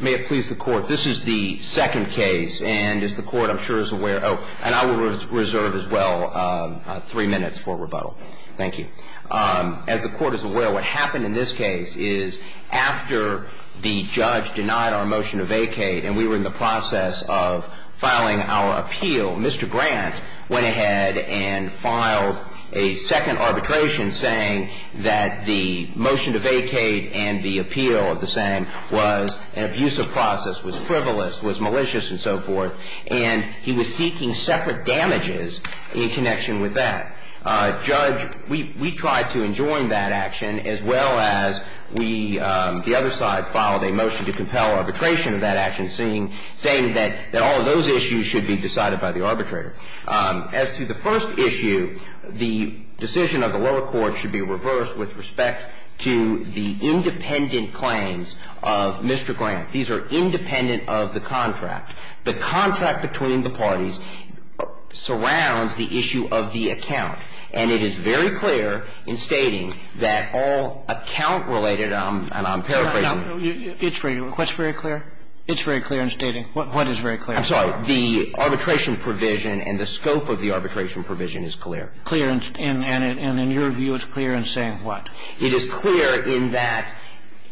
May it please the Court, this is the second case, and as the Court, I'm sure, is aware Oh, and I will reserve as well three minutes for rebuttal. Thank you. As the Court is aware, what happened in this case is after the judge denied our motion to vacate and we were in the process of filing our appeal, Mr. Grant went ahead and filed a second arbitration saying that the motion to vacate and the appeal of the same was an abusive process, was frivolous, was malicious and so forth, and he was seeking separate damages in connection with that. Judge, we tried to enjoin that action as well as we, the other side, filed a motion to compel arbitration of that action saying that all of those issues should be decided by the arbitrator. As to the first issue, the decision of the lower court should be reversed with respect to the independent claims of Mr. Grant. These are independent of the contract. The contract between the parties surrounds the issue of the account, and it is very clear in stating that all account-related, and I'm paraphrasing. It's very clear. What's very clear? It's very clear in stating. What is very clear? I'm sorry. The arbitration provision and the scope of the arbitration provision is clear. And in your view, it's clear in saying what? It is clear in that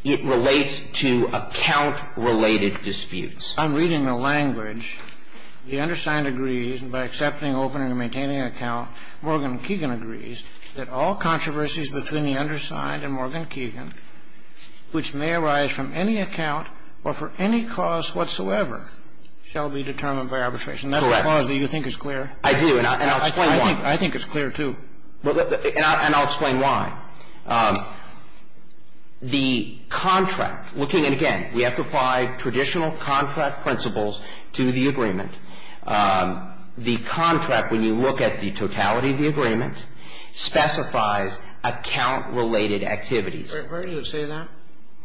it relates to account-related disputes. I'm reading the language. The undersigned agrees, and by accepting, opening, and maintaining an account, Morgan Keegan agrees that all controversies between the undersigned and Morgan Keegan agree to be determined by arbitration. That's the clause that you think is clear. I do. And I'll explain why. I think it's clear, too. And I'll explain why. The contract, looking at, again, we have to apply traditional contract principles to the agreement, the contract, when you look at the totality of the agreement, specifies account-related activities. Where does it say that?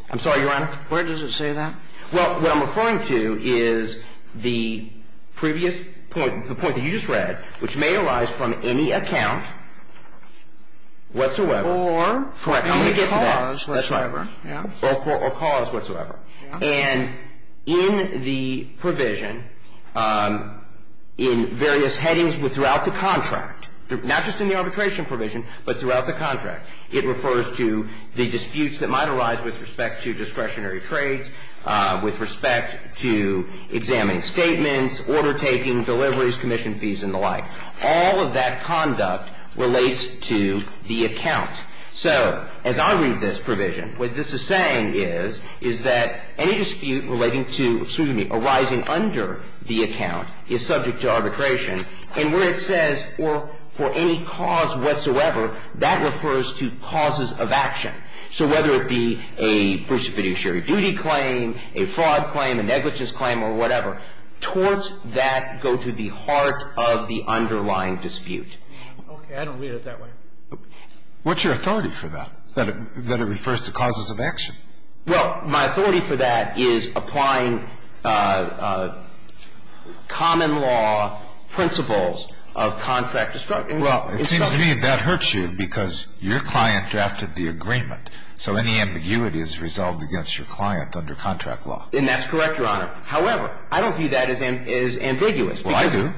I'm sorry, Your Honor? Where does it say that? Well, what I'm referring to is the previous point, the point that you just read, which may arise from any account whatsoever. Or any cause whatsoever. That's right. Or cause whatsoever. And in the provision, in various headings throughout the contract, not just in the arbitration provision, but throughout the contract, it refers to the disputes that might arise with respect to discretionary trades, with respect to examining statements, order-taking, deliveries, commission fees, and the like. All of that conduct relates to the account. So as I read this provision, what this is saying is, is that any dispute relating to, excuse me, arising under the account is subject to arbitration. And where it says, or for any cause whatsoever, that refers to causes of action. So whether it be a bruce fiduciary duty claim, a fraud claim, a negligence claim, or whatever, towards that go to the heart of the underlying dispute. Okay. I don't read it that way. What's your authority for that? That it refers to causes of action? Well, my authority for that is applying common law principles of contract destruction. Well, it seems to me that hurts you, because your client drafted the agreement. So any ambiguity is resolved against your client under contract law. And that's correct, Your Honor. However, I don't view that as ambiguous. Well, I do.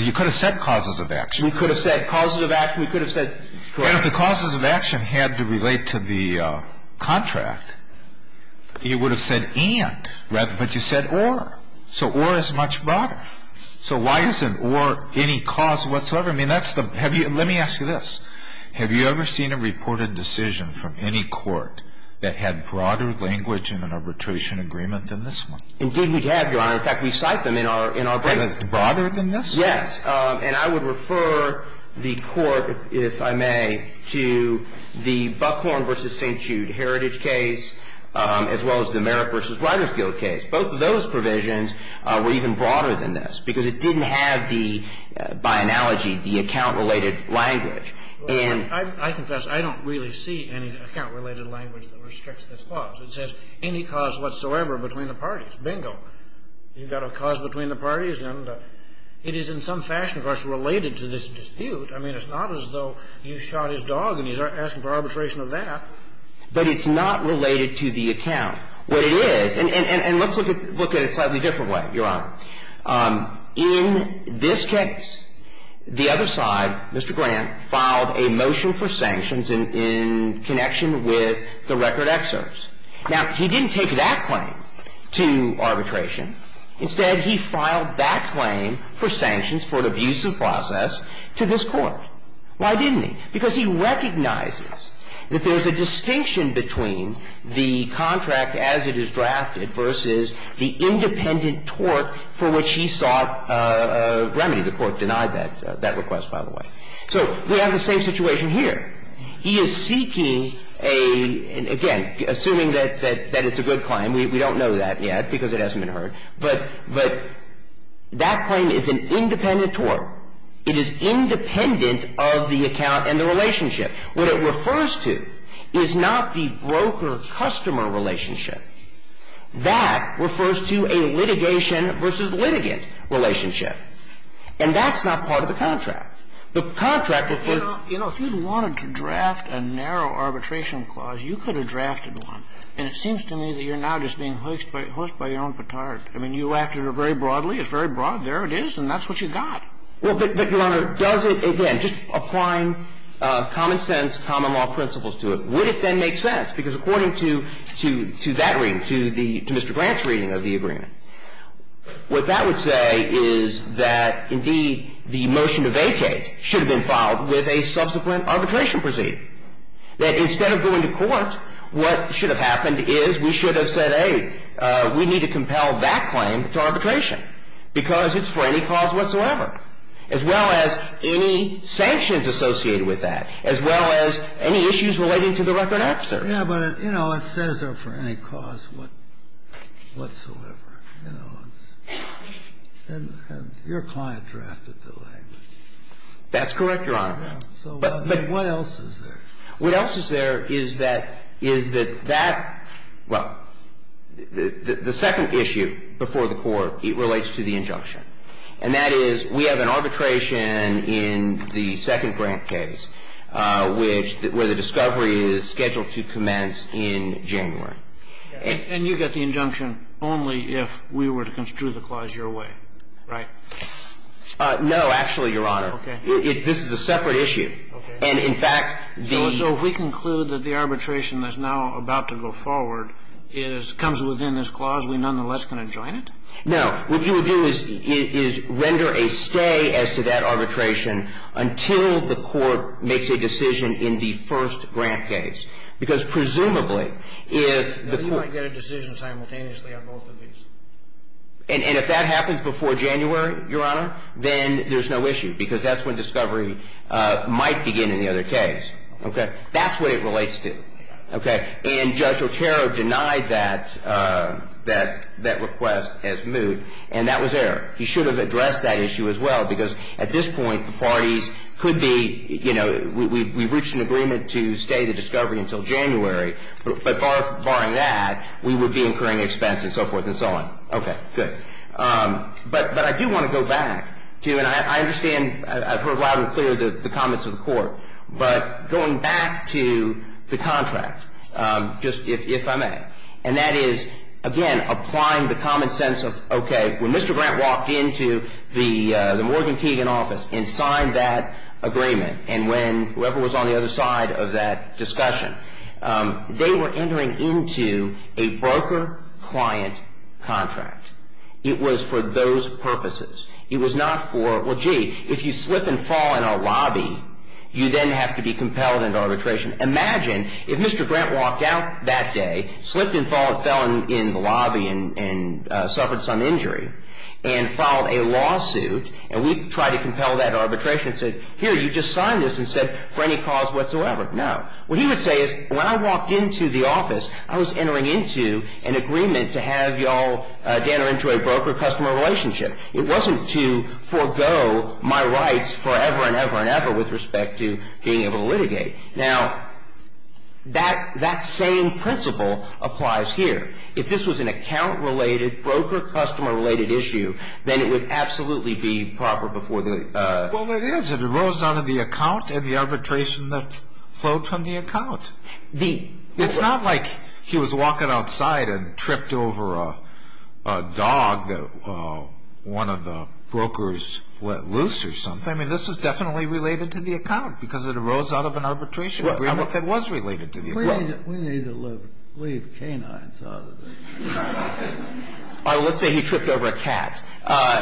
You could have said causes of action. We could have said causes of action. We could have said. And if the causes of action had to relate to the contract, you would have said and, but you said or. So or is much broader. So why isn't or any cause whatsoever? I mean, that's the. Let me ask you this. Have you ever seen a reported decision from any court that had broader language in an arbitration agreement than this one? Indeed, we have, Your Honor. In fact, we cite them in our case. And it's broader than this? Yes. And I would refer the court, if I may, to the Buckhorn v. St. Jude Heritage case, as well as the Merritt v. Riders Guild case. Both of those provisions were even broader than this, because it didn't have the, by analogy, the account-related language. And. Well, I confess I don't really see any account-related language that restricts this clause. It says any cause whatsoever between the parties. Bingo. You've got a cause between the parties, and it is in some fashion, of course, related to this dispute. I mean, it's not as though you shot his dog and he's asking for arbitration of that. But it's not related to the account. What it is, and let's look at it a slightly different way, Your Honor. In this case, the other side, Mr. Grant, filed a motion for sanctions in connection with the record excerpts. Now, he didn't take that claim to arbitration. Instead, he filed that claim for sanctions for an abusive process to this Court. Why didn't he? Because he recognizes that there's a distinction between the contract as it is drafted versus the independent tort for which he sought a remedy. The Court denied that request, by the way. So we have the same situation here. He is seeking a, again, assuming that it's a good claim. We don't know that yet because it hasn't been heard. But that claim is an independent tort. It is independent of the account and the relationship. What it refers to is not the broker-customer relationship. That refers to a litigation versus litigant relationship. And that's not part of the contract. The contract refers to the contract. You know, if you wanted to draft a narrow arbitration clause, you could have drafted one. And it seems to me that you're now just being hoisted by your own petard. I mean, you acted very broadly. It's very broad. There it is. And that's what you got. Well, but, Your Honor, does it, again, just applying common sense, common law principles to it, would it then make sense? Because according to that reading, to Mr. Grant's reading of the agreement, what that would say is that, indeed, the motion to vacate should have been filed with a subsequent arbitration proceeding, that instead of going to court, what should have happened is we should have said, hey, we need to compel that claim to arbitration because it's for any cause whatsoever, as well as any sanctions associated with that, as well as any issues relating to the record absurd. Yeah, but, you know, it says they're for any cause whatsoever, you know. And your client drafted the layman. That's correct, Your Honor. But what else is there? What else is there is that, is that that – well, the second issue before the court relates to the injunction. And that is we have an arbitration in the second Grant case, which – where the discovery is scheduled to commence in January. And you get the injunction only if we were to construe the clause your way, right? No, actually, Your Honor. Okay. This is a separate issue. Okay. And, in fact, the – So if we conclude that the arbitration that's now about to go forward is – comes within this clause, we nonetheless can adjoin it? No. What you would do is – is render a stay as to that arbitration until the court makes a decision in the first Grant case. Because, presumably, if the court – Then you might get a decision simultaneously on both of these. And if that happens before January, Your Honor, then there's no issue, because that's when discovery might begin in the other case. Okay. That's what it relates to. Okay. And Judge Otero denied that – that request as moot. And that was error. He should have addressed that issue as well, because at this point, the parties could be – you know, we've reached an agreement to stay the discovery until January. But barring that, we would be incurring expense and so forth and so on. Okay. Good. But I do want to go back to – and I understand – I've heard loud and clear the comments of the Court. But going back to the contract, just if I may, and that is, again, applying the common sense of, okay, when Mr. Grant walked into the Morgan Keegan office and signed that agreement, and when – whoever was on the other side of that discussion, they were entering into a broker-client contract. It was for those purposes. It was not for – well, gee, if you slip and fall in our lobby, you then have to be compelled into arbitration. Imagine if Mr. Grant walked out that day, slipped and fell in the lobby and suffered some injury, and filed a lawsuit, and we tried to compel that arbitration and said, here, you just signed this and said, for any cause whatsoever. No. What he would say is, when I walked into the office, I was entering into an agreement to have you all enter into a broker-customer relationship. It wasn't to forego my rights forever and ever and ever with respect to being able to litigate. Now, that same principle applies here. If this was an account-related, broker-customer-related issue, then it would absolutely be proper before the – Well, it is. It arose out of the account and the arbitration that flowed from the account. It's not like he was walking outside and tripped over a dog that one of the brokers let loose or something. I mean, this is definitely related to the account because it arose out of an arbitration agreement that was related to the account. We need to leave canines out of it. Let's say he tripped over a cat.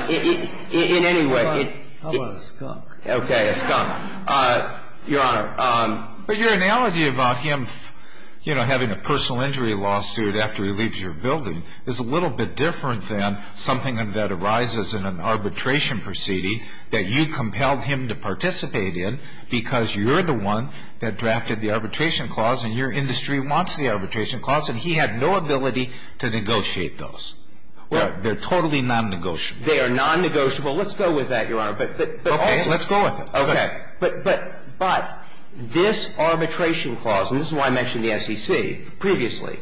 In any way. How about a skunk? Okay. A skunk. Your Honor. But your analogy about him, you know, having a personal injury lawsuit after he leaves your building is a little bit different than something that arises in an arbitration proceeding that you compelled him to participate in because you're the one that drafted the arbitration clause and your industry wants the arbitration clause and he had no ability to negotiate those. They're totally nonnegotiable. They are nonnegotiable. Let's go with that, Your Honor. Okay. Let's go with it. Okay. But this arbitration clause, and this is why I mentioned the SEC previously,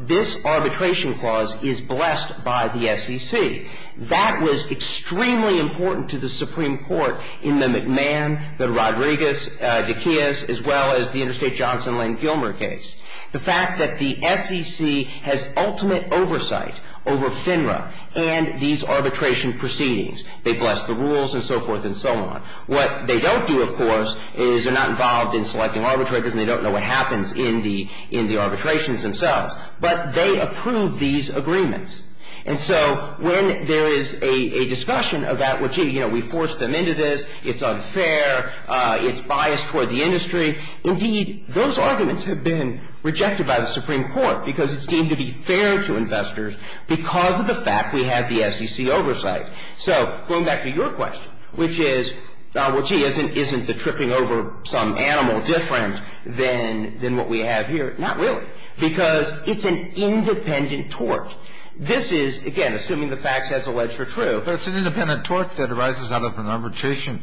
this arbitration clause is blessed by the SEC. That was extremely important to the Supreme Court in the McMahon, the Rodriguez, Dacias, as well as the Interstate Johnson Lane Gilmer case. The fact that the SEC has ultimate oversight over FINRA and these arbitration proceedings. They bless the rules and so forth and so on. What they don't do, of course, is they're not involved in selecting arbitrators and they don't know what happens in the arbitrations themselves. But they approve these agreements. And so when there is a discussion about, well, gee, you know, we forced them into this. It's unfair. It's biased toward the industry. Indeed, those arguments have been rejected by the Supreme Court because it's deemed to be fair to investors because of the fact we have the SEC oversight. So going back to your question, which is, well, gee, isn't the tripping over some animal different than what we have here? Not really. Because it's an independent tort. This is, again, assuming the facts as alleged are true. But it's an independent tort that arises out of an arbitration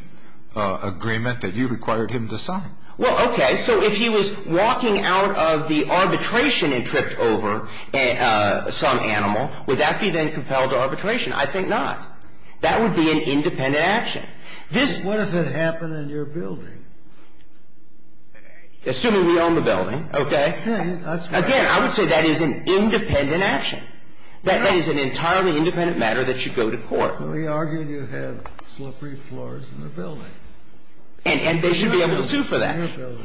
agreement that you required him to sign. Well, okay. So if he was walking out of the arbitration and tripped over some animal, would that be then compelled to arbitration? I think not. That would be an independent action. What if it happened in your building? Assuming we own the building, okay. Again, I would say that is an independent action. That is an entirely independent matter that should go to court. We argue you have slippery floors in the building. And they should be able to sue for that.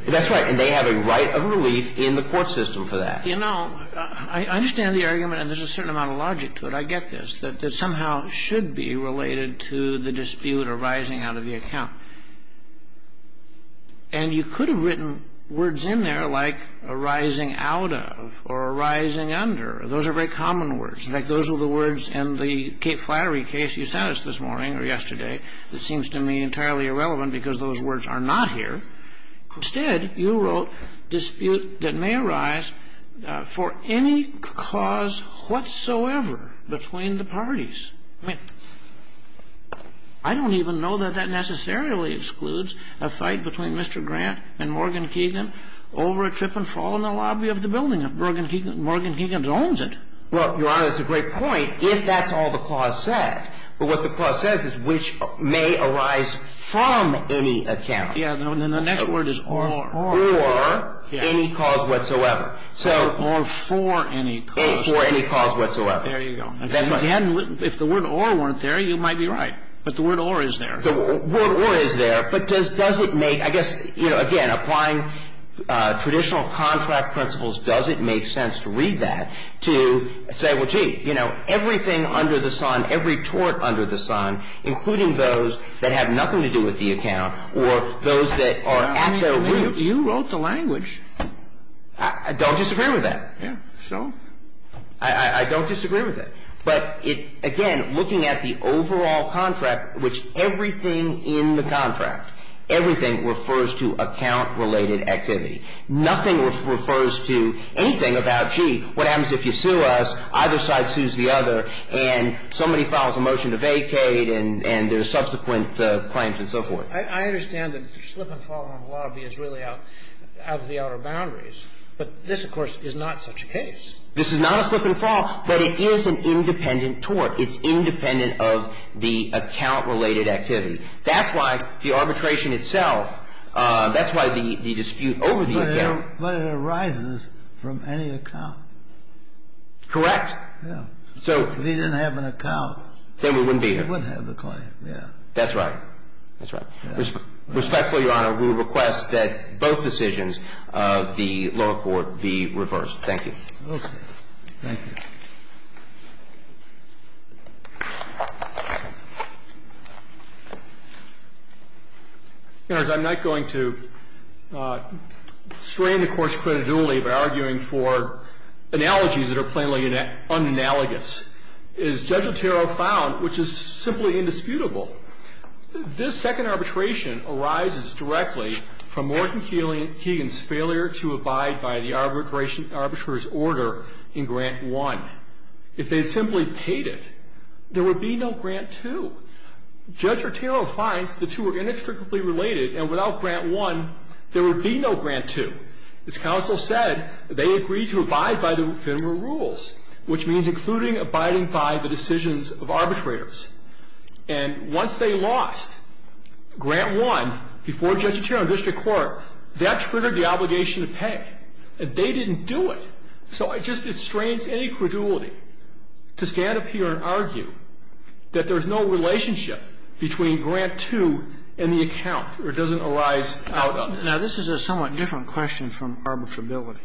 That's right. And they have a right of relief in the court system for that. You know, I understand the argument, and there's a certain amount of logic to it. I get this. That somehow should be related to the dispute arising out of the account. And you could have written words in there like arising out of or arising under. Those are very common words. In fact, those are the words in the Cape Flattery case you sent us this morning or yesterday that seems to me entirely irrelevant because those words are not here. Instead, you wrote dispute that may arise for any cause whatsoever between the parties. I mean, I don't even know that that necessarily excludes a fight between Mr. Grant and Morgan Keegan over a trip and fall in the lobby of the building if Morgan Keegan owns it. Well, Your Honor, that's a great point if that's all the clause said. But what the clause says is which may arise from any account. Yeah. And then the next word is or. Or any cause whatsoever. Or for any cause. For any cause whatsoever. There you go. If the word or weren't there, you might be right. But the word or is there. The word or is there. But does it make, I guess, you know, again, applying traditional contract principles, I mean, you wrote the language. I don't disagree with that. Yeah. So? I don't disagree with it. But, again, looking at the overall contract, which everything in the contract, everything refers to account-related activity. Nothing refers to anything about, gee, what happens if you sue us, either side sues the other, and somebody files a motion to vacate and there's subsequent claims and so forth. I understand that the slip and fall in the lobby is really out of the outer boundaries. But this, of course, is not such a case. This is not a slip and fall, but it is an independent tort. It's independent of the account-related activity. That's why the arbitration itself, that's why the dispute over the account. But it arises from any account. Correct. Yeah. So. If he didn't have an account. Then we wouldn't be here. We wouldn't have the claim, yeah. That's right. That's right. Respectfully, Your Honor, we request that both decisions of the lower court be reversed. Thank you. Okay. Thank you. In other words, I'm not going to strain the Court's credulity by arguing for analogies that are plainly unanalogous. As Judge Otero found, which is simply indisputable, this second arbitration arises directly from Morton Keegan's failure to abide by the arbitrator's order in Grant I. If they had simply paid it, there would be no Grant II. Judge Otero finds the two are inextricably related, and without Grant I, there would be no Grant II. As counsel said, they agreed to abide by the Venmo rules, which means including abiding by the decisions of arbitrators. And once they lost Grant I before Judge Otero and district court, that triggered the obligation to pay. And they didn't do it. So it just constrains any credulity to stand up here and argue that there's no relationship between Grant II and the account, or it doesn't arise out of it. Now, this is a somewhat different question from arbitrability.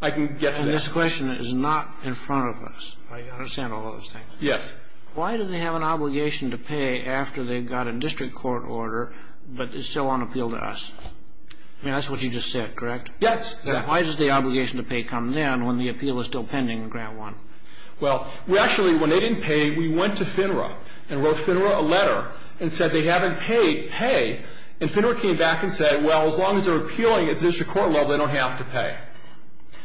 I can get to that. And this question is not in front of us. I understand all those things. Yes. Why do they have an obligation to pay after they've got a district court order, but it's still on appeal to us? I mean, that's what you just said, correct? Yes. Why does the obligation to pay come then when the appeal is still pending in Grant I? Well, we actually, when they didn't pay, we went to FINRA and wrote FINRA a letter and said they haven't paid. And FINRA came back and said, well, as long as they're appealing at district court level, they don't have to pay.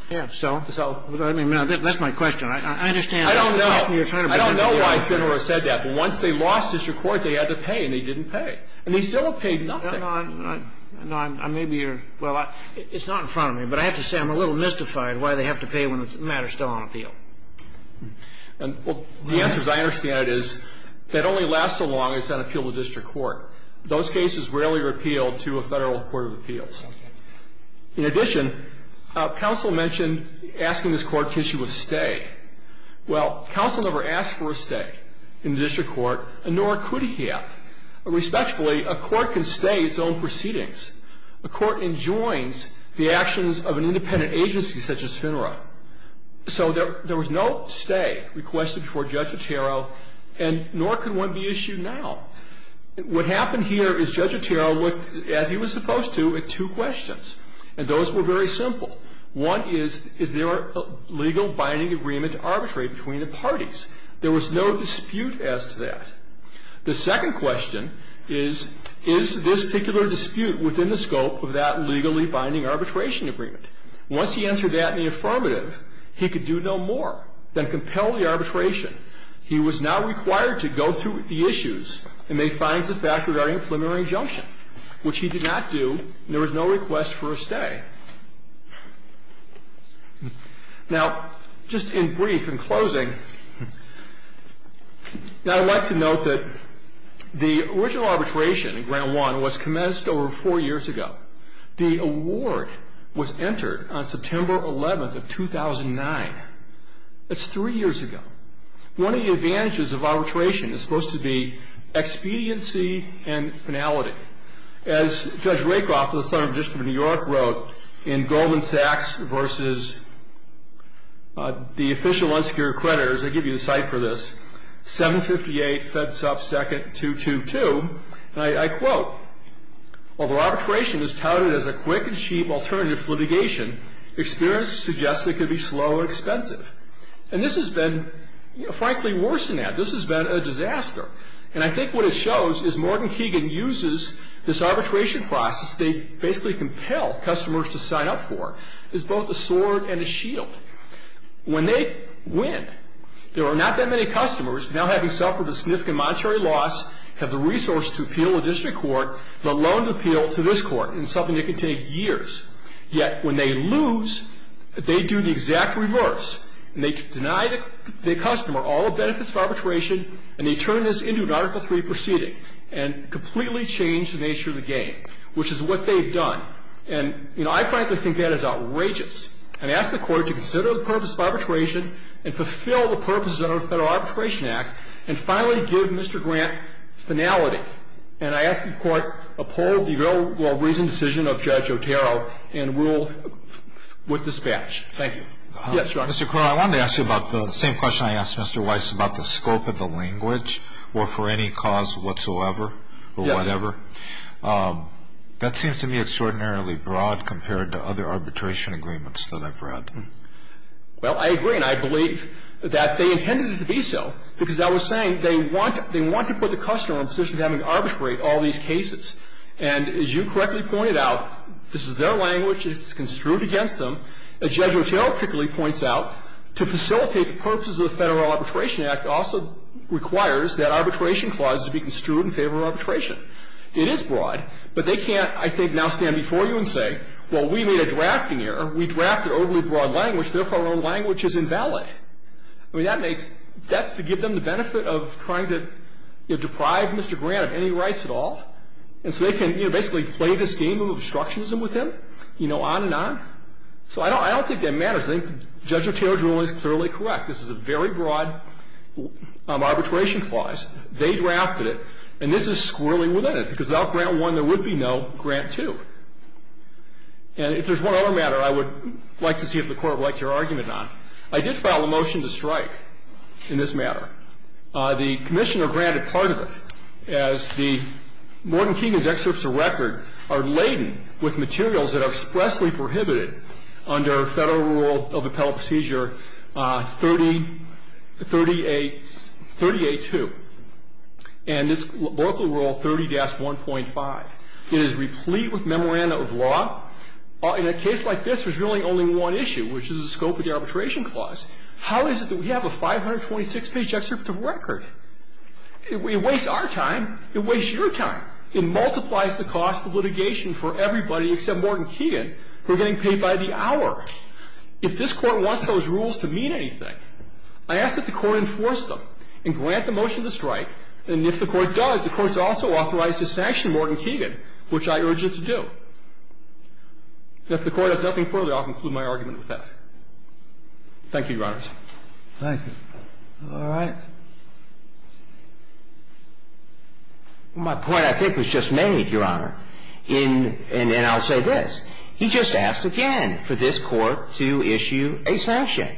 Yes. So that's my question. I understand. I don't know why FINRA said that, but once they lost district court, they had to pay and they didn't pay. And they still have paid nothing. No, I'm not. No, I may be your – well, it's not in front of me, but I have to say I'm a little mystified why they have to pay when the matter is still on appeal. Well, the answer, as I understand it, is that only lasts so long as it's on appeal to district court. Those cases rarely are appealed to a Federal court of appeals. In addition, counsel mentioned asking this Court to issue a stay. Well, counsel never asked for a stay in the district court, nor could he have. Respectfully, a court can stay its own proceedings. A court enjoins the actions of an independent agency such as FINRA. So there was no stay requested before Judge Otero, and nor could one be issued now. What happened here is Judge Otero looked, as he was supposed to, at two questions, and those were very simple. One is, is there a legal binding agreement to arbitrate between the parties? There was no dispute as to that. The second question is, is this particular dispute within the scope of that legally binding arbitration agreement? Once he answered that in the affirmative, he could do no more than compel the arbitration. He was now required to go through the issues and make findings of fact regarding a preliminary injunction, which he did not do, and there was no request for a stay. Now, just in brief, in closing, I'd like to note that the original arbitration in Grant 1 was commenced over four years ago. The award was entered on September 11th of 2009. That's three years ago. One of the advantages of arbitration is supposed to be expediency and finality. As Judge Rakoff, the Senator of the District of New York, wrote in Goldman Sachs v. The Official Unsecured Creditors, I give you the cite for this, 758, FedSupp 2nd, 222, and I quote, While the arbitration is touted as a quick and cheap alternative to litigation, experience suggests it could be slow and expensive. And this has been, frankly, worse than that. This has been a disaster. And I think what it shows is Morgan Keegan uses this arbitration process they basically compel customers to sign up for as both a sword and a shield. When they win, there are not that many customers now having suffered a significant monetary loss, have the resource to appeal the district court, the loan to appeal to this court, and it's something that can take years. Yet when they lose, they do the exact reverse, and they deny the customer all the benefits of the arbitration process. And that's what they've done. And I think that's outrageous. And I ask the Court to consider the purpose of arbitration and fulfill the purposes of the Federal Arbitration Act and finally give Mr. Grant finality. And I ask the Court uphold the very well-reasoned decision of Judge Otero and rule with dispatch. Thank you. Yes, Your Honor. Mr. Crowe, I wanted to ask you about the same question I asked Mr. Weiss about the language or for any cause whatsoever or whatever. Yes. That seems to me extraordinarily broad compared to other arbitration agreements that I've read. Well, I agree, and I believe that they intended it to be so because I was saying they want to put the customer in a position of having to arbitrate all these cases. And as you correctly pointed out, this is their language. It's construed against them. As Judge Otero particularly points out, to facilitate the purposes of the Federal Arbitration Act also requires that arbitration clauses be construed in favor of arbitration. It is broad, but they can't, I think, now stand before you and say, well, we made a drafting error. We drafted an overly broad language. Therefore, our language is invalid. I mean, that makes — that's to give them the benefit of trying to, you know, deprive Mr. Grant of any rights at all. And so they can, you know, basically play this game of obstructionism with him, you know, on and on. So I don't think that matters. I think Judge Otero's ruling is thoroughly correct. This is a very broad arbitration clause. They drafted it, and this is squirreling within it, because without Grant I, there would be no Grant II. And if there's one other matter I would like to see if the Court would like to hear an argument on. I did file a motion to strike in this matter. The Commissioner granted part of it, as the Morgan Keegan's excerpts of record are laden with materials that are expressly prohibited under Federal rule of appellate procedure 30A2. And this is local rule 30-1.5. It is replete with memoranda of law. In a case like this, there's really only one issue, which is the scope of the arbitration clause. How is it that we have a 526-page excerpt of record? It wastes our time. It wastes your time. It multiplies the cost of litigation for everybody except Morgan Keegan, who are getting paid by the hour. If this Court wants those rules to mean anything, I ask that the Court enforce them and grant the motion to strike. And if the Court does, the Court's also authorized to sanction Morgan Keegan, which I urge it to do. And if the Court has nothing further, I'll conclude my argument with that. Thank you, Your Honors. Thank you. All right. My point, I think, was just made, Your Honor. And I'll say this. He just asked again for this Court to issue a sanction.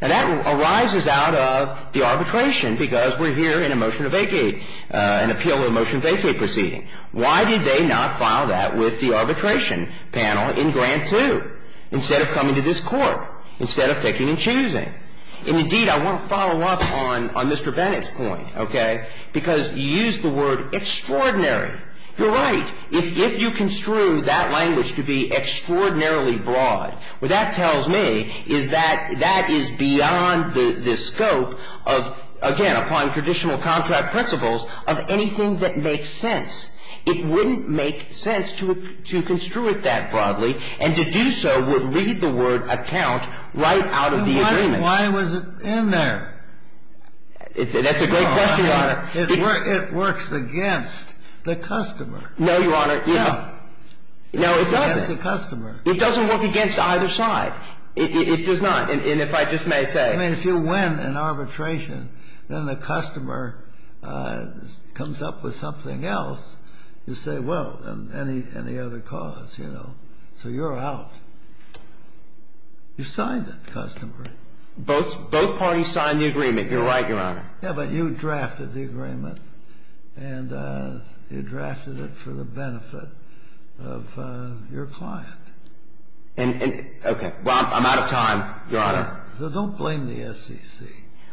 And that arises out of the arbitration, because we're here in a motion to vacate, an appeal of a motion to vacate proceeding. Why did they not file that with the arbitration panel in Grant 2 instead of coming to this Court, instead of picking and choosing? And, indeed, I want to follow up on Mr. Bennett's point, okay, because you used the word extraordinary. You're right. If you construe that language to be extraordinarily broad, what that tells me is that that is beyond the scope of, again, upon traditional contract principles, of anything that makes sense. It wouldn't make sense to construe it that broadly. And to do so would read the word account right out of the agreement. That's a great question, Your Honor. It works against the customer. No, Your Honor. No. No, it doesn't. Against the customer. It doesn't work against either side. It does not. And if I just may say. I mean, if you win an arbitration, then the customer comes up with something else, you say, well, any other cause, you know. So you're out. You signed that customer. Both parties signed the agreement. You're right, Your Honor. Yeah, but you drafted the agreement. And you drafted it for the benefit of your client. Okay. Well, I'm out of time, Your Honor. Don't blame the SEC.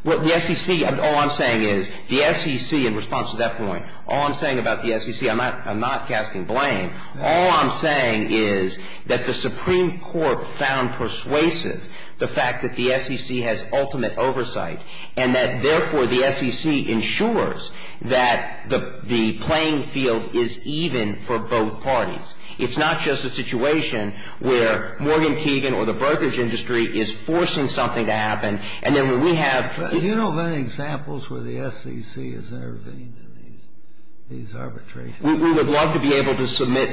Well, the SEC, all I'm saying is, the SEC, in response to that point, all I'm saying about the SEC, I'm not casting blame. All I'm saying is that the Supreme Court found persuasive the fact that the SEC has been able to submit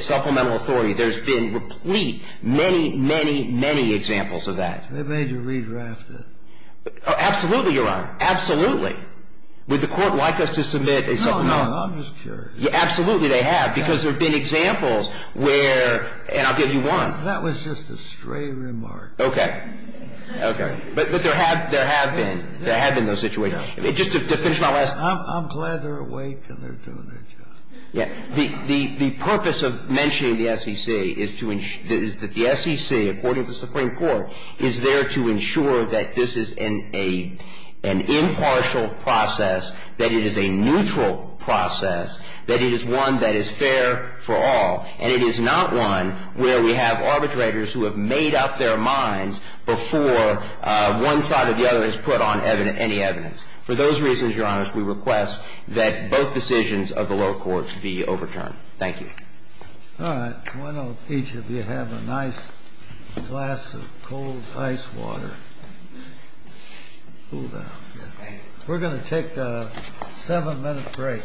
supplemental authority. There's been replete, many, many, many examples of that. They made you redraft it. Absolutely, Your Honor. Absolutely. Would the Court like us to submit a supplemental? No, no. I'm just curious. Absolutely, they have, because there have been examples where, and I'll give you one. That was just a stray remark. Okay. Okay. But there have been. There have been those situations. Just to finish my last. I'm glad they're awake and they're doing their job. Yeah. The purpose of mentioning the SEC is that the SEC, according to the Supreme Court, is there to ensure that this is an impartial process, that it is a neutral process, that it is one that is fair for all, and it is not one where we have arbitrators who have made up their minds before one side or the other has put on any evidence. For those reasons, Your Honor, we request that both decisions of the lower courts be overturned. Thank you. All right. Why don't each of you have a nice glass of cold ice water. Cool down. We're going to take a seven-minute break.